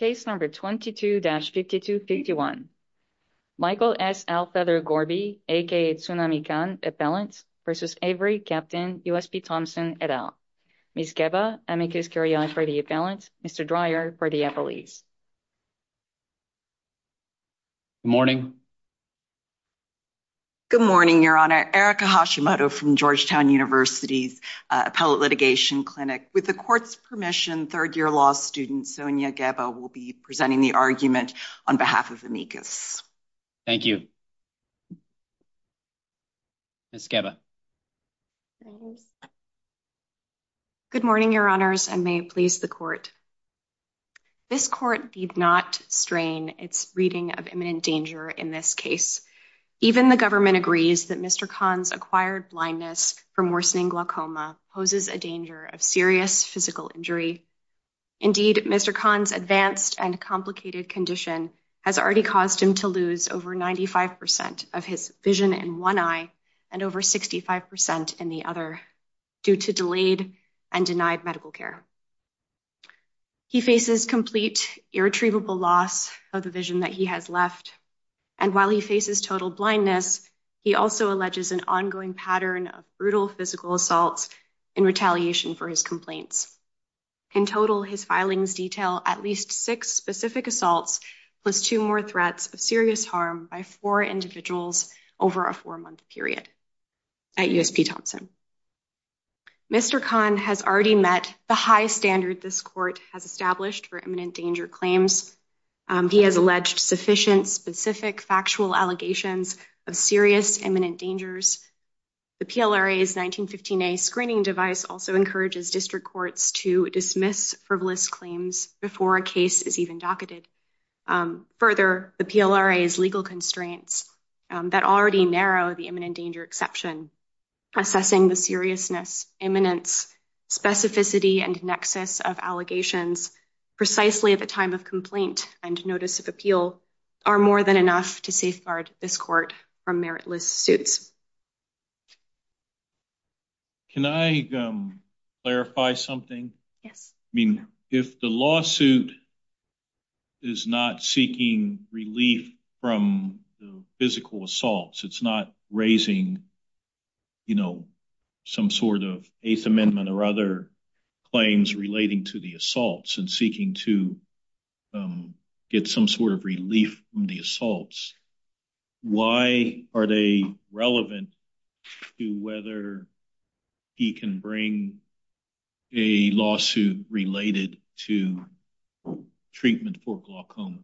Case number 22-5251. Michael S. Owlfeather-Gorbey aka Tsunamikan Appellant v. Avery Captain U.S.P. Thompson, et al. Ms. Geba, amicus curiae for the appellant. Mr. Dreyer for the appellees. Good morning. Good morning, Your Honor. Erica Hashimoto from Georgetown University's Appellate Litigation Clinic. With the court's permission, third-year law student Sonia Geba will be presenting the argument on behalf of amicus. Thank you. Ms. Geba. Good morning, Your Honors, and may it please the court. This court did not strain its reading of imminent danger in this case. Even the government agrees that Mr. Kahn's acquired blindness from worsening glaucoma poses a danger of serious physical injury. Indeed, Mr. Kahn's advanced and complicated condition has already caused him to lose over 95% of his vision in one eye and over 65% in the other due to delayed and denied medical care. He faces complete, irretrievable loss of the vision that he has left, and while he faces total blindness, he also alleges an ongoing pattern of brutal physical assaults in retaliation for his complaints. In total, his filings detail at least six specific assaults plus two more threats of serious harm by four individuals over a four-month period at USP Thompson. Mr. Kahn has already met the high standard this court has established for imminent danger claims. He has alleged sufficient, specific, factual allegations of serious imminent dangers. The PLRA's 1915A screening device also encourages district courts to dismiss frivolous claims before a case is even docketed. Further, the PLRA's legal constraints that already narrow the imminent danger exception, assessing the seriousness, imminence, specificity, and nexus of allegations precisely at the time of complaint and notice of appeal are more than enough to safeguard this court from meritless suits. Can I clarify something? Yes. I mean, if the lawsuit is not seeking relief from the physical assaults, it's not raising, you know, some sort of Eighth Amendment or other claims relating to the assaults and seeking to get some sort of relief from the assaults, why are they relevant to whether he can bring a lawsuit related to treatment for glaucoma?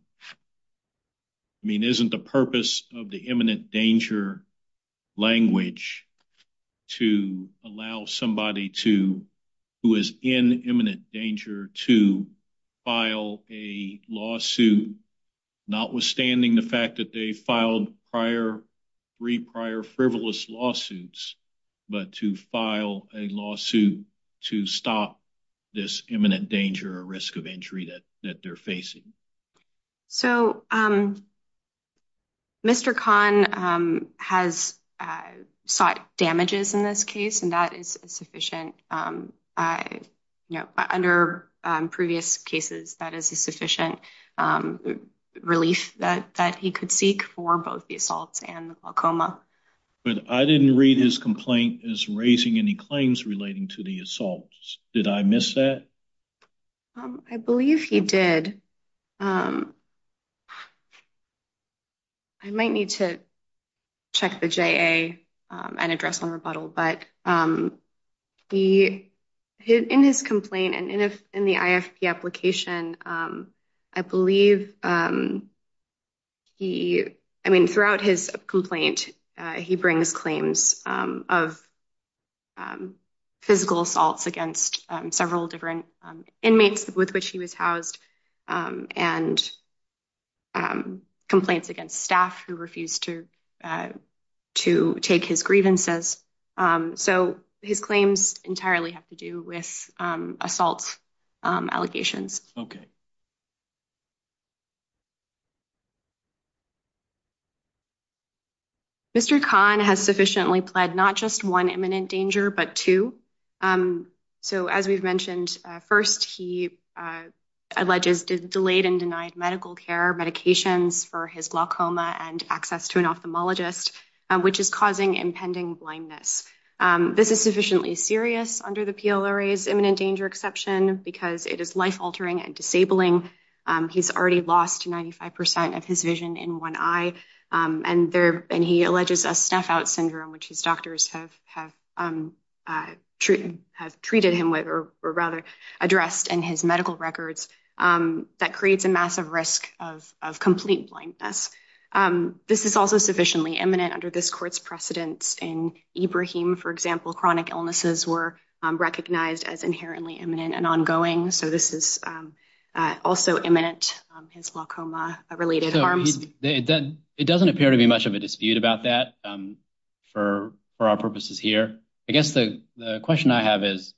I mean, isn't the purpose of the imminent danger language to allow somebody who is in imminent danger to file a lawsuit, notwithstanding the fact that they filed three prior frivolous lawsuits, but to file a lawsuit to stop this imminent danger or risk of injury that they're facing? So, Mr. Kahn has sought damages in this case, and that is sufficient, you know, under previous cases, that is a sufficient relief that he could seek for both the assaults and glaucoma. But I didn't read his complaint as raising any claims relating to the assaults. Did I miss that? I believe he did. I might need to check the JA and address on rebuttal. But in his complaint and in the IFP application, I believe he, I mean, throughout his complaint, he brings claims of physical assaults against several different inmates with which he was housed and complaints against staff who refused to take his grievances. So his claims entirely have to do with assault allegations. Okay. Mr. Kahn has sufficiently pled not just one imminent danger, but two. So, as we've mentioned, first, he alleges delayed and denied medical care medications for his glaucoma and access to an ophthalmologist, which is causing impending blindness. This is sufficiently serious under the PLRA's imminent danger exception because it is life altering and disabling. He's already lost 95 percent of his vision in one eye. And he alleges a snuff out syndrome, which his doctors have treated him with or rather addressed in his medical records that creates a massive risk of complete blindness. This is also sufficiently imminent under this court's precedence in Ibrahim. For example, chronic illnesses were recognized as inherently imminent and ongoing. So this is also imminent, his glaucoma related harms. It doesn't appear to be much of a dispute about that for our purposes here. I guess the question I have is,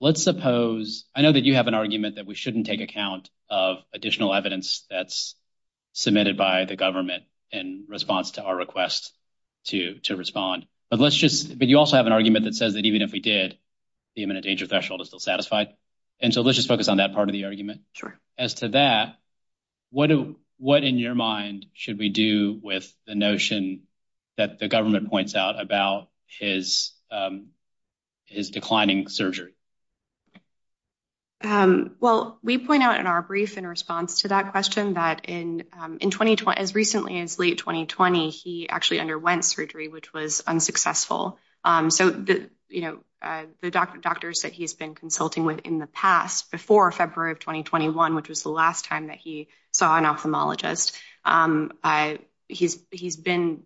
let's suppose I know that you have an argument that we shouldn't take account of additional evidence that's submitted by the government in response to our request to respond. But let's just but you also have an argument that says that even if we did, the imminent danger threshold is still satisfied. And so let's just focus on that part of the argument. Sure. As to that, what what in your mind should we do with the notion that the government points out about his his declining surgery? Well, we point out in our brief in response to that question that in in 2020, as recently as late 2020, he actually underwent surgery, which was unsuccessful. So, you know, the doctors that he's been consulting with in the past before February of 2021, which was the last time that he saw an ophthalmologist, he's he's been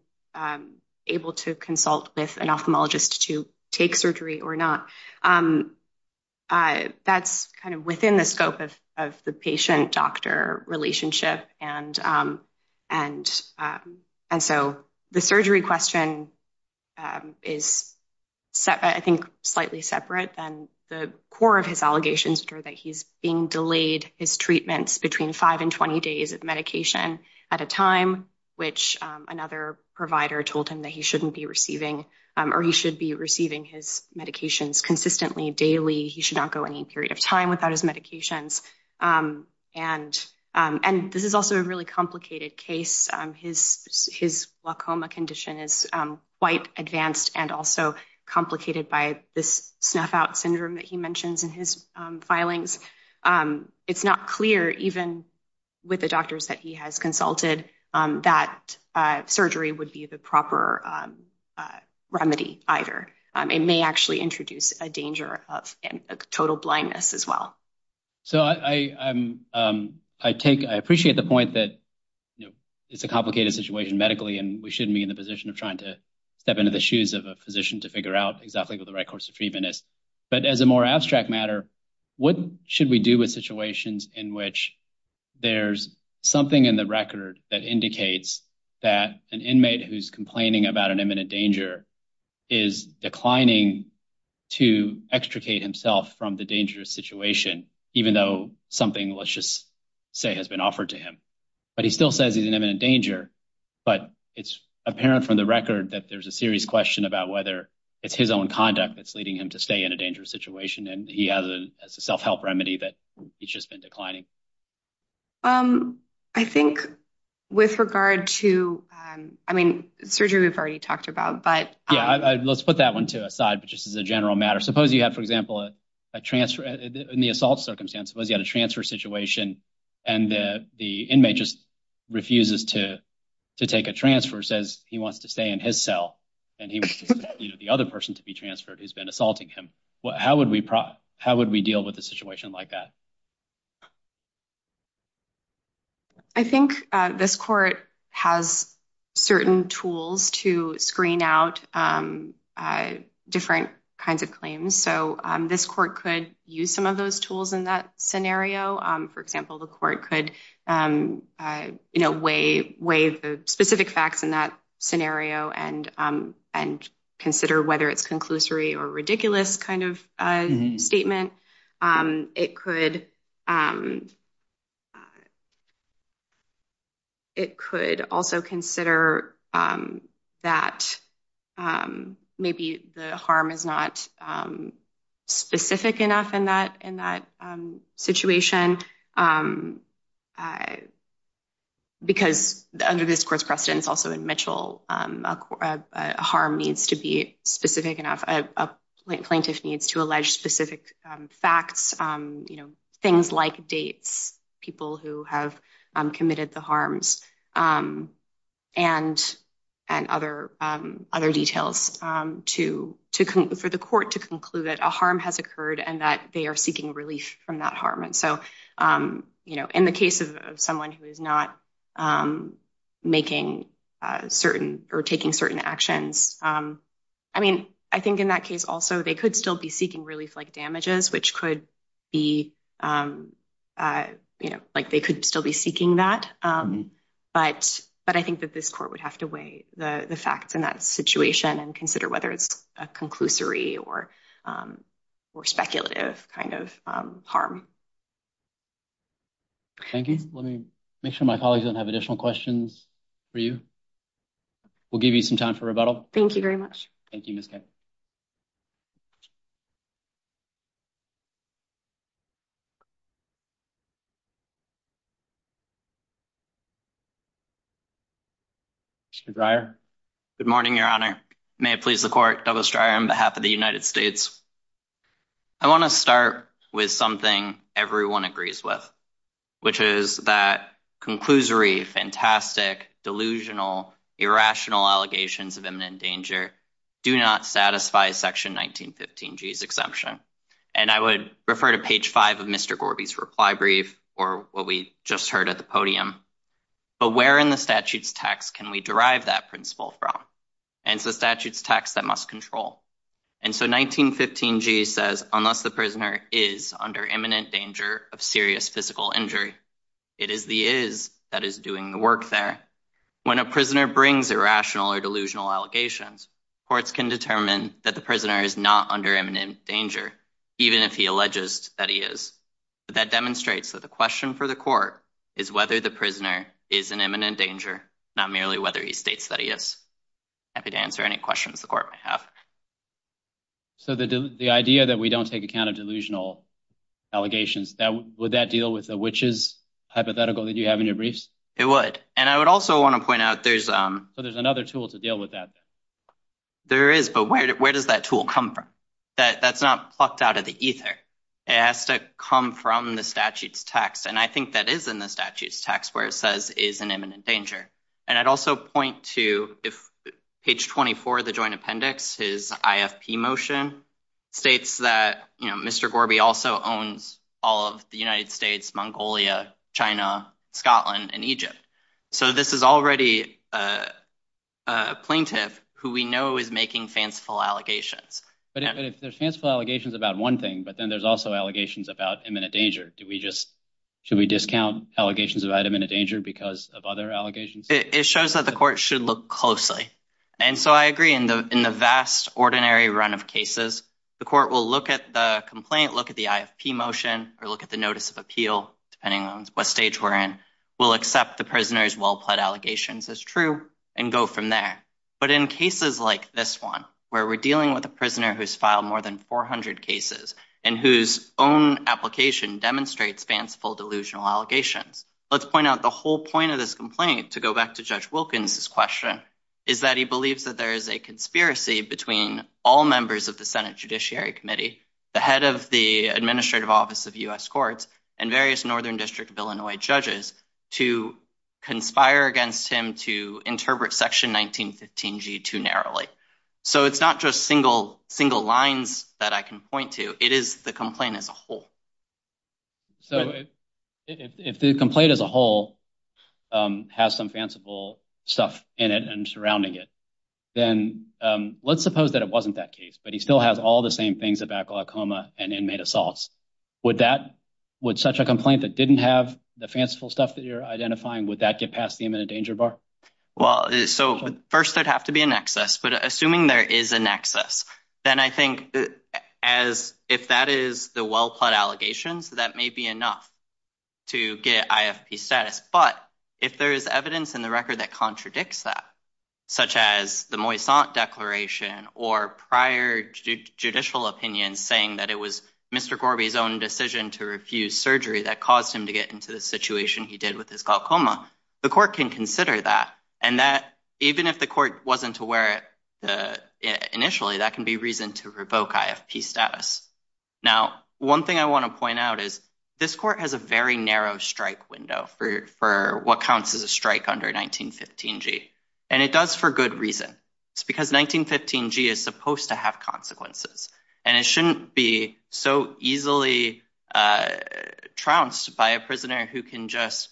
able to consult with an ophthalmologist to take surgery or not. That's kind of within the scope of of the patient doctor relationship. And and and so the surgery question is, I think, slightly separate than the core of his allegations that he's being delayed his treatments between five and 20 days of medication at a time, which another provider told him that he shouldn't be receiving or he should be receiving his medications consistently. Daily, he should not go any period of time without his medications. And and this is also a really complicated case. His his glaucoma condition is quite advanced and also complicated by this snuff out syndrome that he mentions in his filings. It's not clear even with the doctors that he has consulted that surgery would be the proper remedy either. It may actually introduce a danger of total blindness as well. So I, I'm I take I appreciate the point that, you know, it's a complicated situation medically and we shouldn't be in the position of trying to step into the shoes of a physician to figure out exactly what the right course of treatment is. But as a more abstract matter, what should we do with situations in which there's something in the record that indicates that an inmate who's complaining about an imminent danger is declining to extricate himself from the dangerous situation, even though something, let's just say, has been offered to him. But he still says he's an imminent danger, but it's apparent from the record that there's a serious question about whether it's his own conduct that's leading him to stay in a dangerous situation. And he has a self-help remedy that he's just been declining. I think with regard to, I mean, surgery, we've already talked about, but let's put that one to a side, but just as a general matter, suppose you have, for example, a transfer in the assault circumstance. Suppose you had a transfer situation and the inmate just refuses to to take a transfer, says he wants to stay in his cell and he wants the other person to be transferred who's been assaulting him. How would we how would we deal with a situation like that? I think this court has certain tools to screen out different kinds of claims, so this court could use some of those tools in that scenario. For example, the court could weigh the specific facts in that scenario and consider whether it's conclusory or ridiculous kind of statement. It could. It could also consider that maybe the harm is not specific enough in that in that situation. Because under this court's precedence, also in Mitchell, a harm needs to be specific enough, a plaintiff needs to allege specific facts, things like dates, people who have committed the harms, and other details for the court to conclude that a harm has occurred and that they are seeking relief from that harm. So, you know, in the case of someone who is not making certain or taking certain actions, I mean, I think in that case, also, they could still be seeking relief like damages, which could be, you know, like, they could still be seeking that. But I think that this court would have to weigh the facts in that situation and consider whether it's a conclusory or speculative kind of harm. Thank you. Let me make sure my colleagues don't have additional questions for you. We'll give you some time for rebuttal. Thank you very much. Thank you. Mr. Stryer. Good morning, Your Honor. May it please the court, Douglas Stryer on behalf of the United States. I want to start with something everyone agrees with, which is that conclusory, fantastic, delusional, irrational allegations of imminent danger do not satisfy Section 1915G's exemption. And I would refer to page five of Mr. Gorby's reply brief or what we just heard at the podium. But where in the statute's text can we derive that principle from? And it's the statute's text that must control. And so 1915G says, unless the prisoner is under imminent danger of serious physical injury, it is the is that is doing the work there. When a prisoner brings irrational or delusional allegations, courts can determine that the prisoner is not under imminent danger, even if he alleges that he is. But that demonstrates that the question for the court is whether the prisoner is in imminent danger, not merely whether he states that he is. Happy to answer any questions the court may have. So the idea that we don't take account of delusional allegations, would that deal with the witches hypothetical that you have in your briefs? It would. And I would also want to point out there's so there's another tool to deal with that. There is. But where does that tool come from? That that's not plucked out of the ether. It has to come from the statute's text. And I think that is in the statute's text where it says is an imminent danger. And I'd also point to if page 24, the joint appendix, his IFP motion states that, you know, Mr. Gorby also owns all of the United States, Mongolia, China, Scotland and Egypt. So this is already a plaintiff who we know is making fanciful allegations. But if there's fanciful allegations about one thing, but then there's also allegations about imminent danger. Do we just should we discount allegations of item in a danger because of other allegations? It shows that the court should look closely. And so I agree in the in the vast, ordinary run of cases, the court will look at the complaint, look at the IFP motion or look at the notice of appeal, depending on what stage we're in. We'll accept the prisoner's well-plaid allegations as true and go from there. But in cases like this one where we're dealing with a prisoner who's filed more than 400 cases and whose own application demonstrates fanciful, delusional allegations. Let's point out the whole point of this complaint to go back to Judge Wilkins. His question is that he believes that there is a conspiracy between all members of the Senate Judiciary Committee, the head of the administrative office of U.S. courts and various Northern District of Illinois judges to conspire against him to interpret Section 1915 G2 narrowly. So it's not just single single lines that I can point to. It is the complaint as a whole. So if the complaint as a whole has some fanciful stuff in it and surrounding it, then let's suppose that it wasn't that case, but he still has all the same things about glaucoma and inmate assaults. Would that would such a complaint that didn't have the fanciful stuff that you're identifying, would that get past the imminent danger bar? Well, so first, there'd have to be an excess. But assuming there is an excess, then I think as if that is the well-plot allegations, that may be enough to get IFP status. But if there is evidence in the record that contradicts that, such as the Moyse declaration or prior judicial opinions saying that it was Mr. Moyse who refused surgery that caused him to get into the situation he did with his glaucoma, the court can consider that. And that even if the court wasn't aware initially, that can be reason to revoke IFP status. Now, one thing I want to point out is this court has a very narrow strike window for what counts as a strike under 1915 G. And it does for good reason. It's because 1915 G is supposed to have consequences and it shouldn't be so easily trounced by a prisoner who can just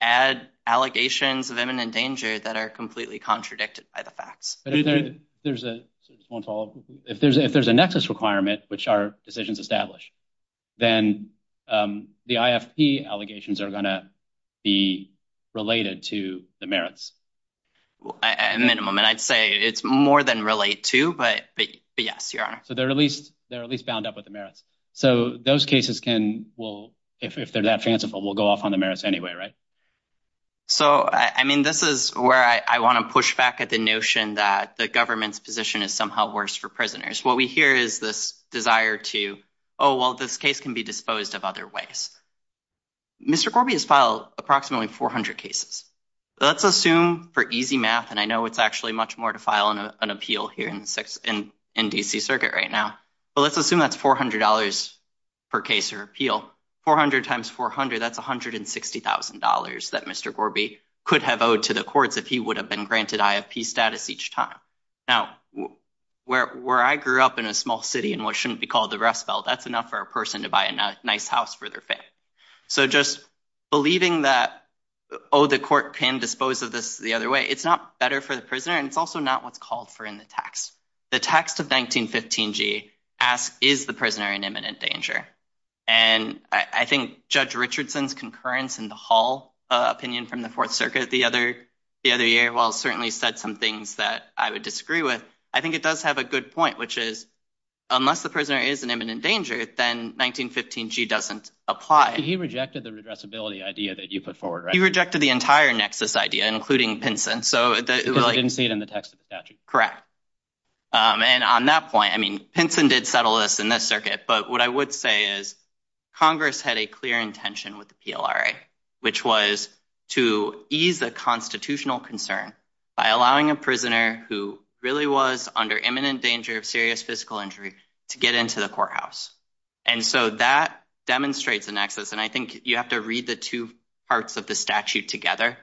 add allegations of imminent danger that are completely contradicted by the facts. There's a small if there's if there's a nexus requirement, which are decisions established, then the IFP allegations are going to be related to the merits. A minimum, and I'd say it's more than relate to. But yes, you are. So they're at least they're at least bound up with the merits. So those cases can well, if they're that fanciful, we'll go off on the merits anyway. Right. So, I mean, this is where I want to push back at the notion that the government's position is somehow worse for prisoners. What we hear is this desire to oh, well, this case can be disposed of other ways. Mr. Gorby has filed approximately 400 cases. Let's assume for easy math. And I know it's actually much more to file an appeal here in six and in D.C. circuit right now. Well, let's assume that's four hundred dollars per case or appeal. Four hundred times four hundred. That's one hundred and sixty thousand dollars that Mr. Gorby could have owed to the courts if he would have been granted IFP status each time. Now, where I grew up in a small city and what shouldn't be called the Rust Belt. That's enough for a person to buy a nice house for their family. So just believing that, oh, the court can dispose of this the other way. It's not better for the prisoner. And it's also not what's called for in the text. The text of 1915 G asks, is the prisoner in imminent danger? And I think Judge Richardson's concurrence in the Hall opinion from the Fourth Circuit the other the other year. Well, certainly said some things that I would disagree with. But I think it does have a good point, which is unless the prisoner is in imminent danger, then 1915 G doesn't apply. He rejected the addressability idea that you put forward. You rejected the entire nexus idea, including Pinson. So I didn't see it in the text of the statute. Correct. And on that point, I mean, Pinson did settle this in this circuit. But what I would say is Congress had a clear intention with the PLRA, which was to ease the constitutional concern by allowing a prisoner who really was under imminent danger of serious physical injury to get into the courthouse. And so that demonstrates the nexus. And I think you have to read the two parts of the statute together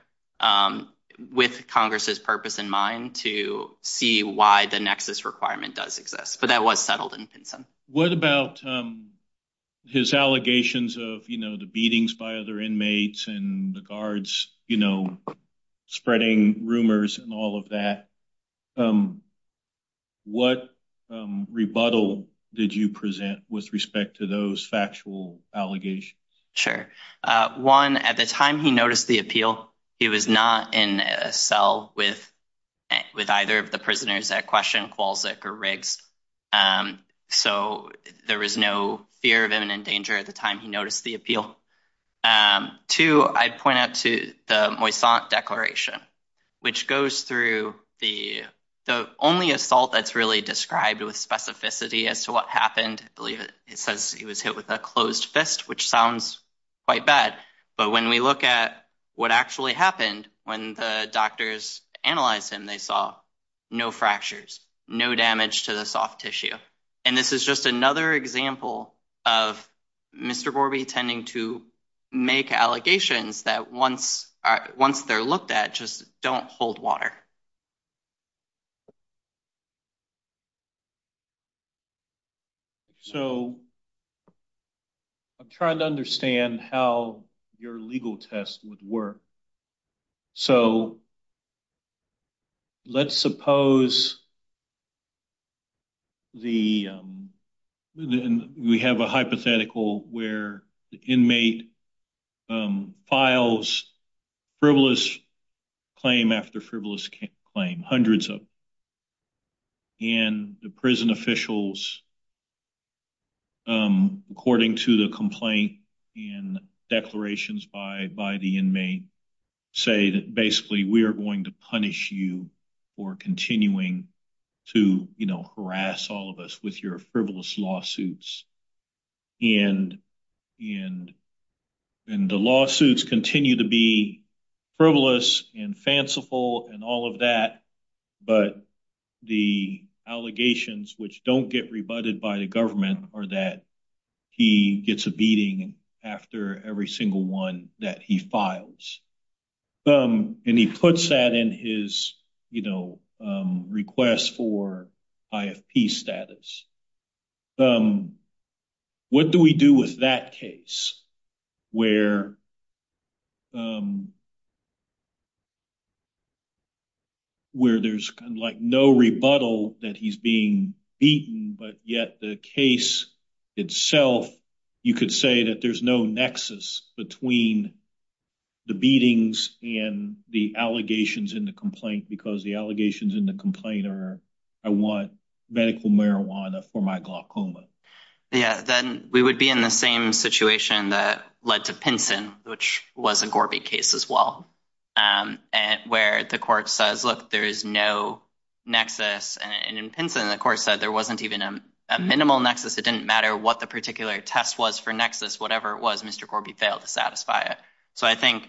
with Congress's purpose in mind to see why the nexus requirement does exist. But that was settled in Pinson. About his allegations of, you know, the beatings by other inmates and the guards, you know, spreading rumors and all of that. What rebuttal did you present with respect to those factual allegations? Sure. One, at the time he noticed the appeal, he was not in a cell with with either of the prisoners at question, Kowalczyk or Riggs. So there was no fear of imminent danger at the time he noticed the appeal. Two, I'd point out to the Moisant Declaration, which goes through the only assault that's really described with specificity as to what happened. I believe it says he was hit with a closed fist, which sounds quite bad. But when we look at what actually happened, when the doctors analyzed him, they saw no fractures, no damage to the soft tissue. And this is just another example of Mr. Borby tending to make allegations that once once they're looked at, just don't hold water. So I'm trying to understand how your legal test would work. So. Let's suppose. The we have a hypothetical where the inmate files frivolous claim after frivolous claim, hundreds of. And the prison officials. According to the complaint and declarations by by the inmate, say that basically we are going to punish you for continuing to harass all of us with your frivolous lawsuits. And in the lawsuits continue to be frivolous and fanciful and all of that, but the allegations which don't get rebutted by the government are that he gets a beating after every single one that he files. And he puts that in his request for IFP status. What do we do with that case where. Where there's no rebuttal that he's being beaten, but yet the case itself, you could say that there's no nexus between the beatings and the allegations in the complaint, because the allegations in the complaint are I want medical marijuana for my glaucoma. Yeah, then we would be in the same situation that led to Pinson, which was a Gorby case as well. And where the court says, look, there is no nexus. And in Pinson, the court said there wasn't even a minimal nexus. It didn't matter what the particular test was for nexus, whatever it was, Mr. Gorby failed to satisfy it. So I think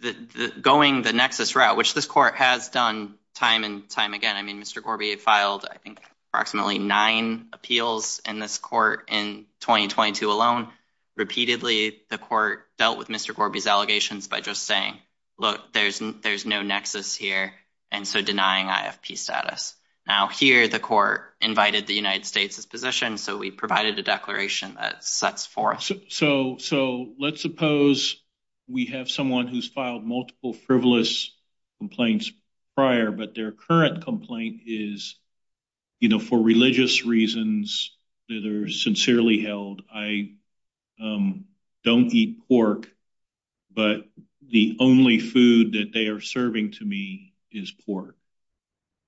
that going the nexus route, which this court has done time and time again, I mean, Mr. Gorby filed, I think, approximately nine appeals in this court in twenty twenty two alone. Repeatedly, the court dealt with Mr. Gorby's allegations by just saying, look, there's there's no nexus here. And so denying IFP status now here, the court invited the United States's position. So we provided a declaration that sets forth. So so so let's suppose we have someone who's filed multiple frivolous complaints prior, but their current complaint is, you know, for religious reasons that are sincerely held. I don't eat pork, but the only food that they are serving to me is pork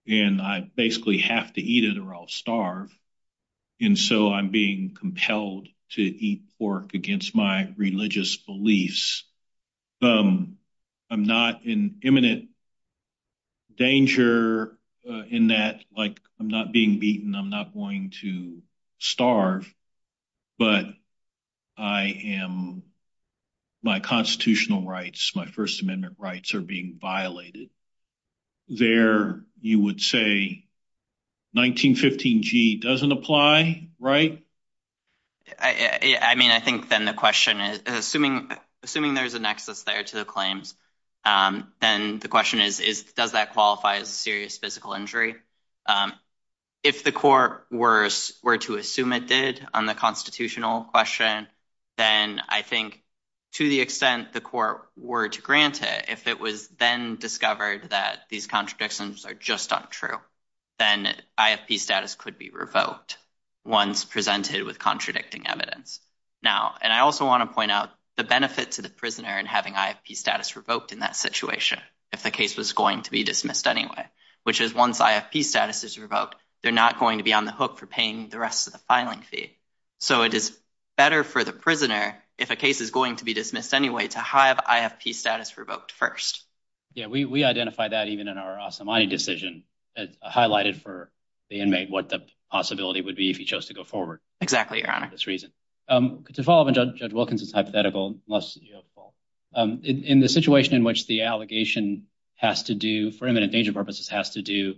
and I basically have to eat it or I'll starve. And so I'm being compelled to eat pork against my religious beliefs. I'm not in imminent danger in that, like I'm not being beaten, I'm not going to starve, but I am my constitutional rights, my First Amendment rights are being violated there. You would say 1915 G doesn't apply. Right. I mean, I think then the question is assuming assuming there's a nexus there to the claims, then the question is, is does that qualify as a serious physical injury? If the court were to assume it did on the constitutional question, then I think to the extent the court were to grant it, if it was then discovered that these contradictions are just not true, then IFP status could be revoked once presented with contradicting evidence. Now, and I also want to point out the benefit to the prisoner and having IFP status revoked in that situation. If the case was going to be dismissed anyway, which is once IFP status is revoked, they're not going to be on the hook for paying the rest of the filing fee. So it is better for the prisoner if a case is going to be dismissed anyway to have IFP status revoked first. Yeah, we identify that even in our Asamani decision highlighted for the inmate what the possibility would be if he chose to go forward. Exactly. To follow up on Judge Wilkinson's hypothetical, in the situation in which the allegation has to do for imminent danger purposes has to do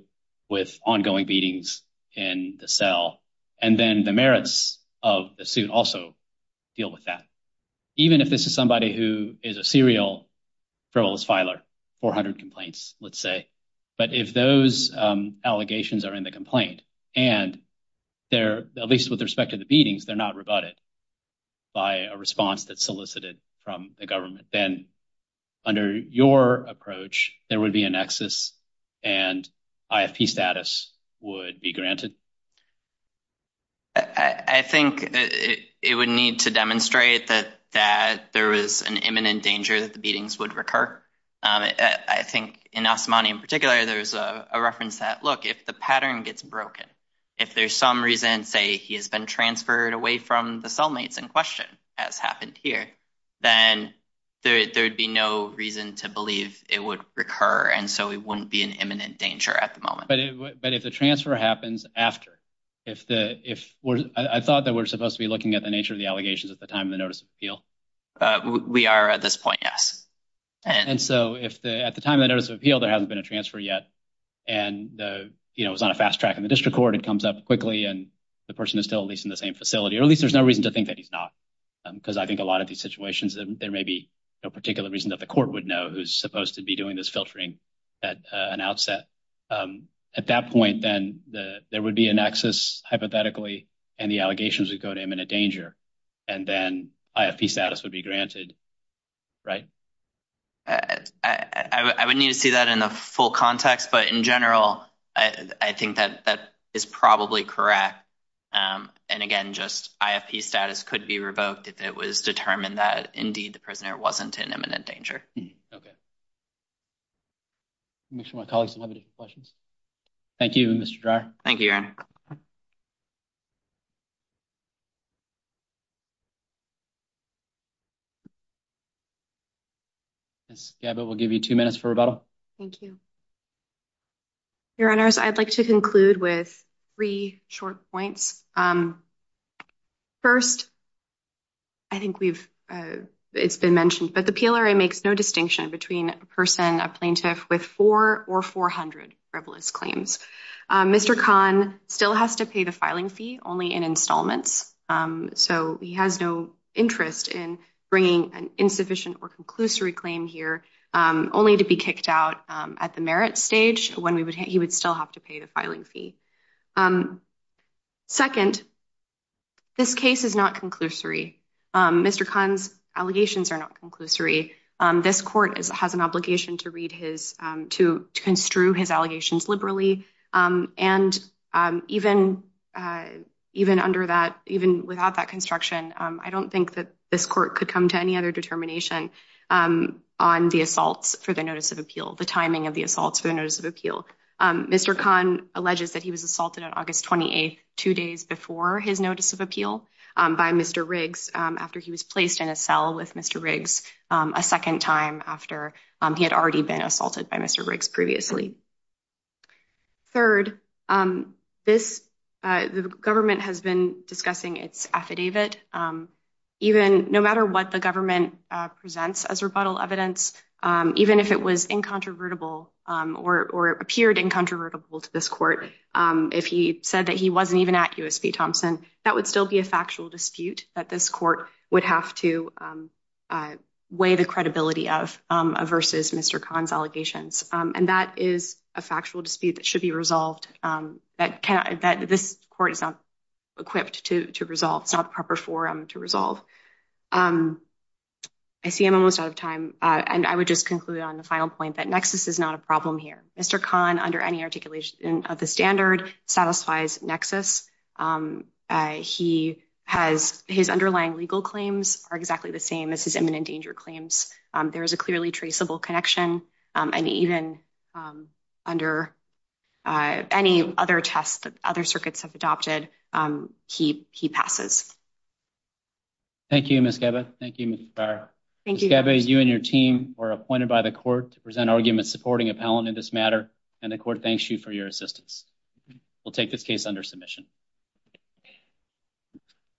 with ongoing beatings in the cell and then the merits of the suit also deal with that. Even if this is somebody who is a serial frivolous filer, 400 complaints, let's say, but if those allegations are in the complaint and they're, at least with respect to the beatings, they're not rebutted by a response that's solicited from the government, then under your approach, there would be a nexus and IFP status would be granted. I think it would need to demonstrate that there is an imminent danger that the beatings would recur. I think in Asamani in particular, there's a reference that, look, if the pattern gets broken, if there's some reason, say, he has been transferred away from the cellmates in question, as happened here, then there'd be no reason to believe it would recur. And so it wouldn't be an imminent danger at the moment. But if the transfer happens after, I thought that we're supposed to be looking at the nature of the allegations at the time of the notice of appeal. We are at this point, yes. And so if at the time of the notice of appeal, there hasn't been a transfer yet, and it was on a fast track in the district court, it comes up quickly, and the person is still at least in the same facility, or at least there's no reason to think that he's not. Because I think a lot of these situations, there may be no particular reason that the court would know who's supposed to be doing this filtering at an outset. At that point, then there would be a nexus, hypothetically, and the allegations would go to imminent danger, and then IFP status would be granted. Right? I would need to see that in the full context, but in general, I think that that is probably correct. And again, just IFP status could be revoked if it was determined that, indeed, the prisoner wasn't in imminent danger. Okay. Make sure my colleagues don't have any questions. Thank you, Aaron. Ms. Gabbitt, we'll give you two minutes for rebuttal. Thank you. Your Honors, I'd like to conclude with three short points. First, I think it's been mentioned, but the PLRA makes no distinction between a person, a plaintiff, with four or 400 frivolous claims. Mr. Kahn still has to pay the filing fee only in installments. So he has no interest in bringing an insufficient or conclusory claim here, only to be kicked out at the merit stage when he would still have to pay the filing fee. Second, this case is not conclusory. Mr. Kahn's allegations are not conclusory. This court has an obligation to read his, to construe his allegations liberally. And even under that, even without that construction, I don't think that this court could come to any other determination on the assaults for the notice of appeal, the timing of the assaults for the notice of appeal. Mr. Kahn alleges that he was assaulted on August 28th, two days before his notice of appeal by Mr. Riggs after he was placed in a cell with Mr. Riggs a second time after he had already been assaulted by Mr. Riggs previously. Third, the government has been discussing its affidavit. No matter what the government presents as rebuttal evidence, even if it was incontrovertible or appeared incontrovertible to this court, if he said that he wasn't even at USP Thompson, that would still be a factual dispute that this court would have to weigh the credibility of versus Mr. Kahn's allegations. And that is a factual dispute that should be resolved, that this court is not equipped to resolve. It's not the proper forum to resolve. I see I'm almost out of time, and I would just conclude on the final point that nexus is not a problem here. Mr. Kahn, under any articulation of the standard, satisfies nexus. He has his underlying legal claims are exactly the same as his imminent danger claims. There is a clearly traceable connection, and even under any other tests that other circuits have adopted, he he passes. Thank you, Miss Gabby. Thank you. Thank you. You and your team were appointed by the court to present arguments supporting appellant in this matter, and the court thanks you for your assistance. We'll take this case under submission.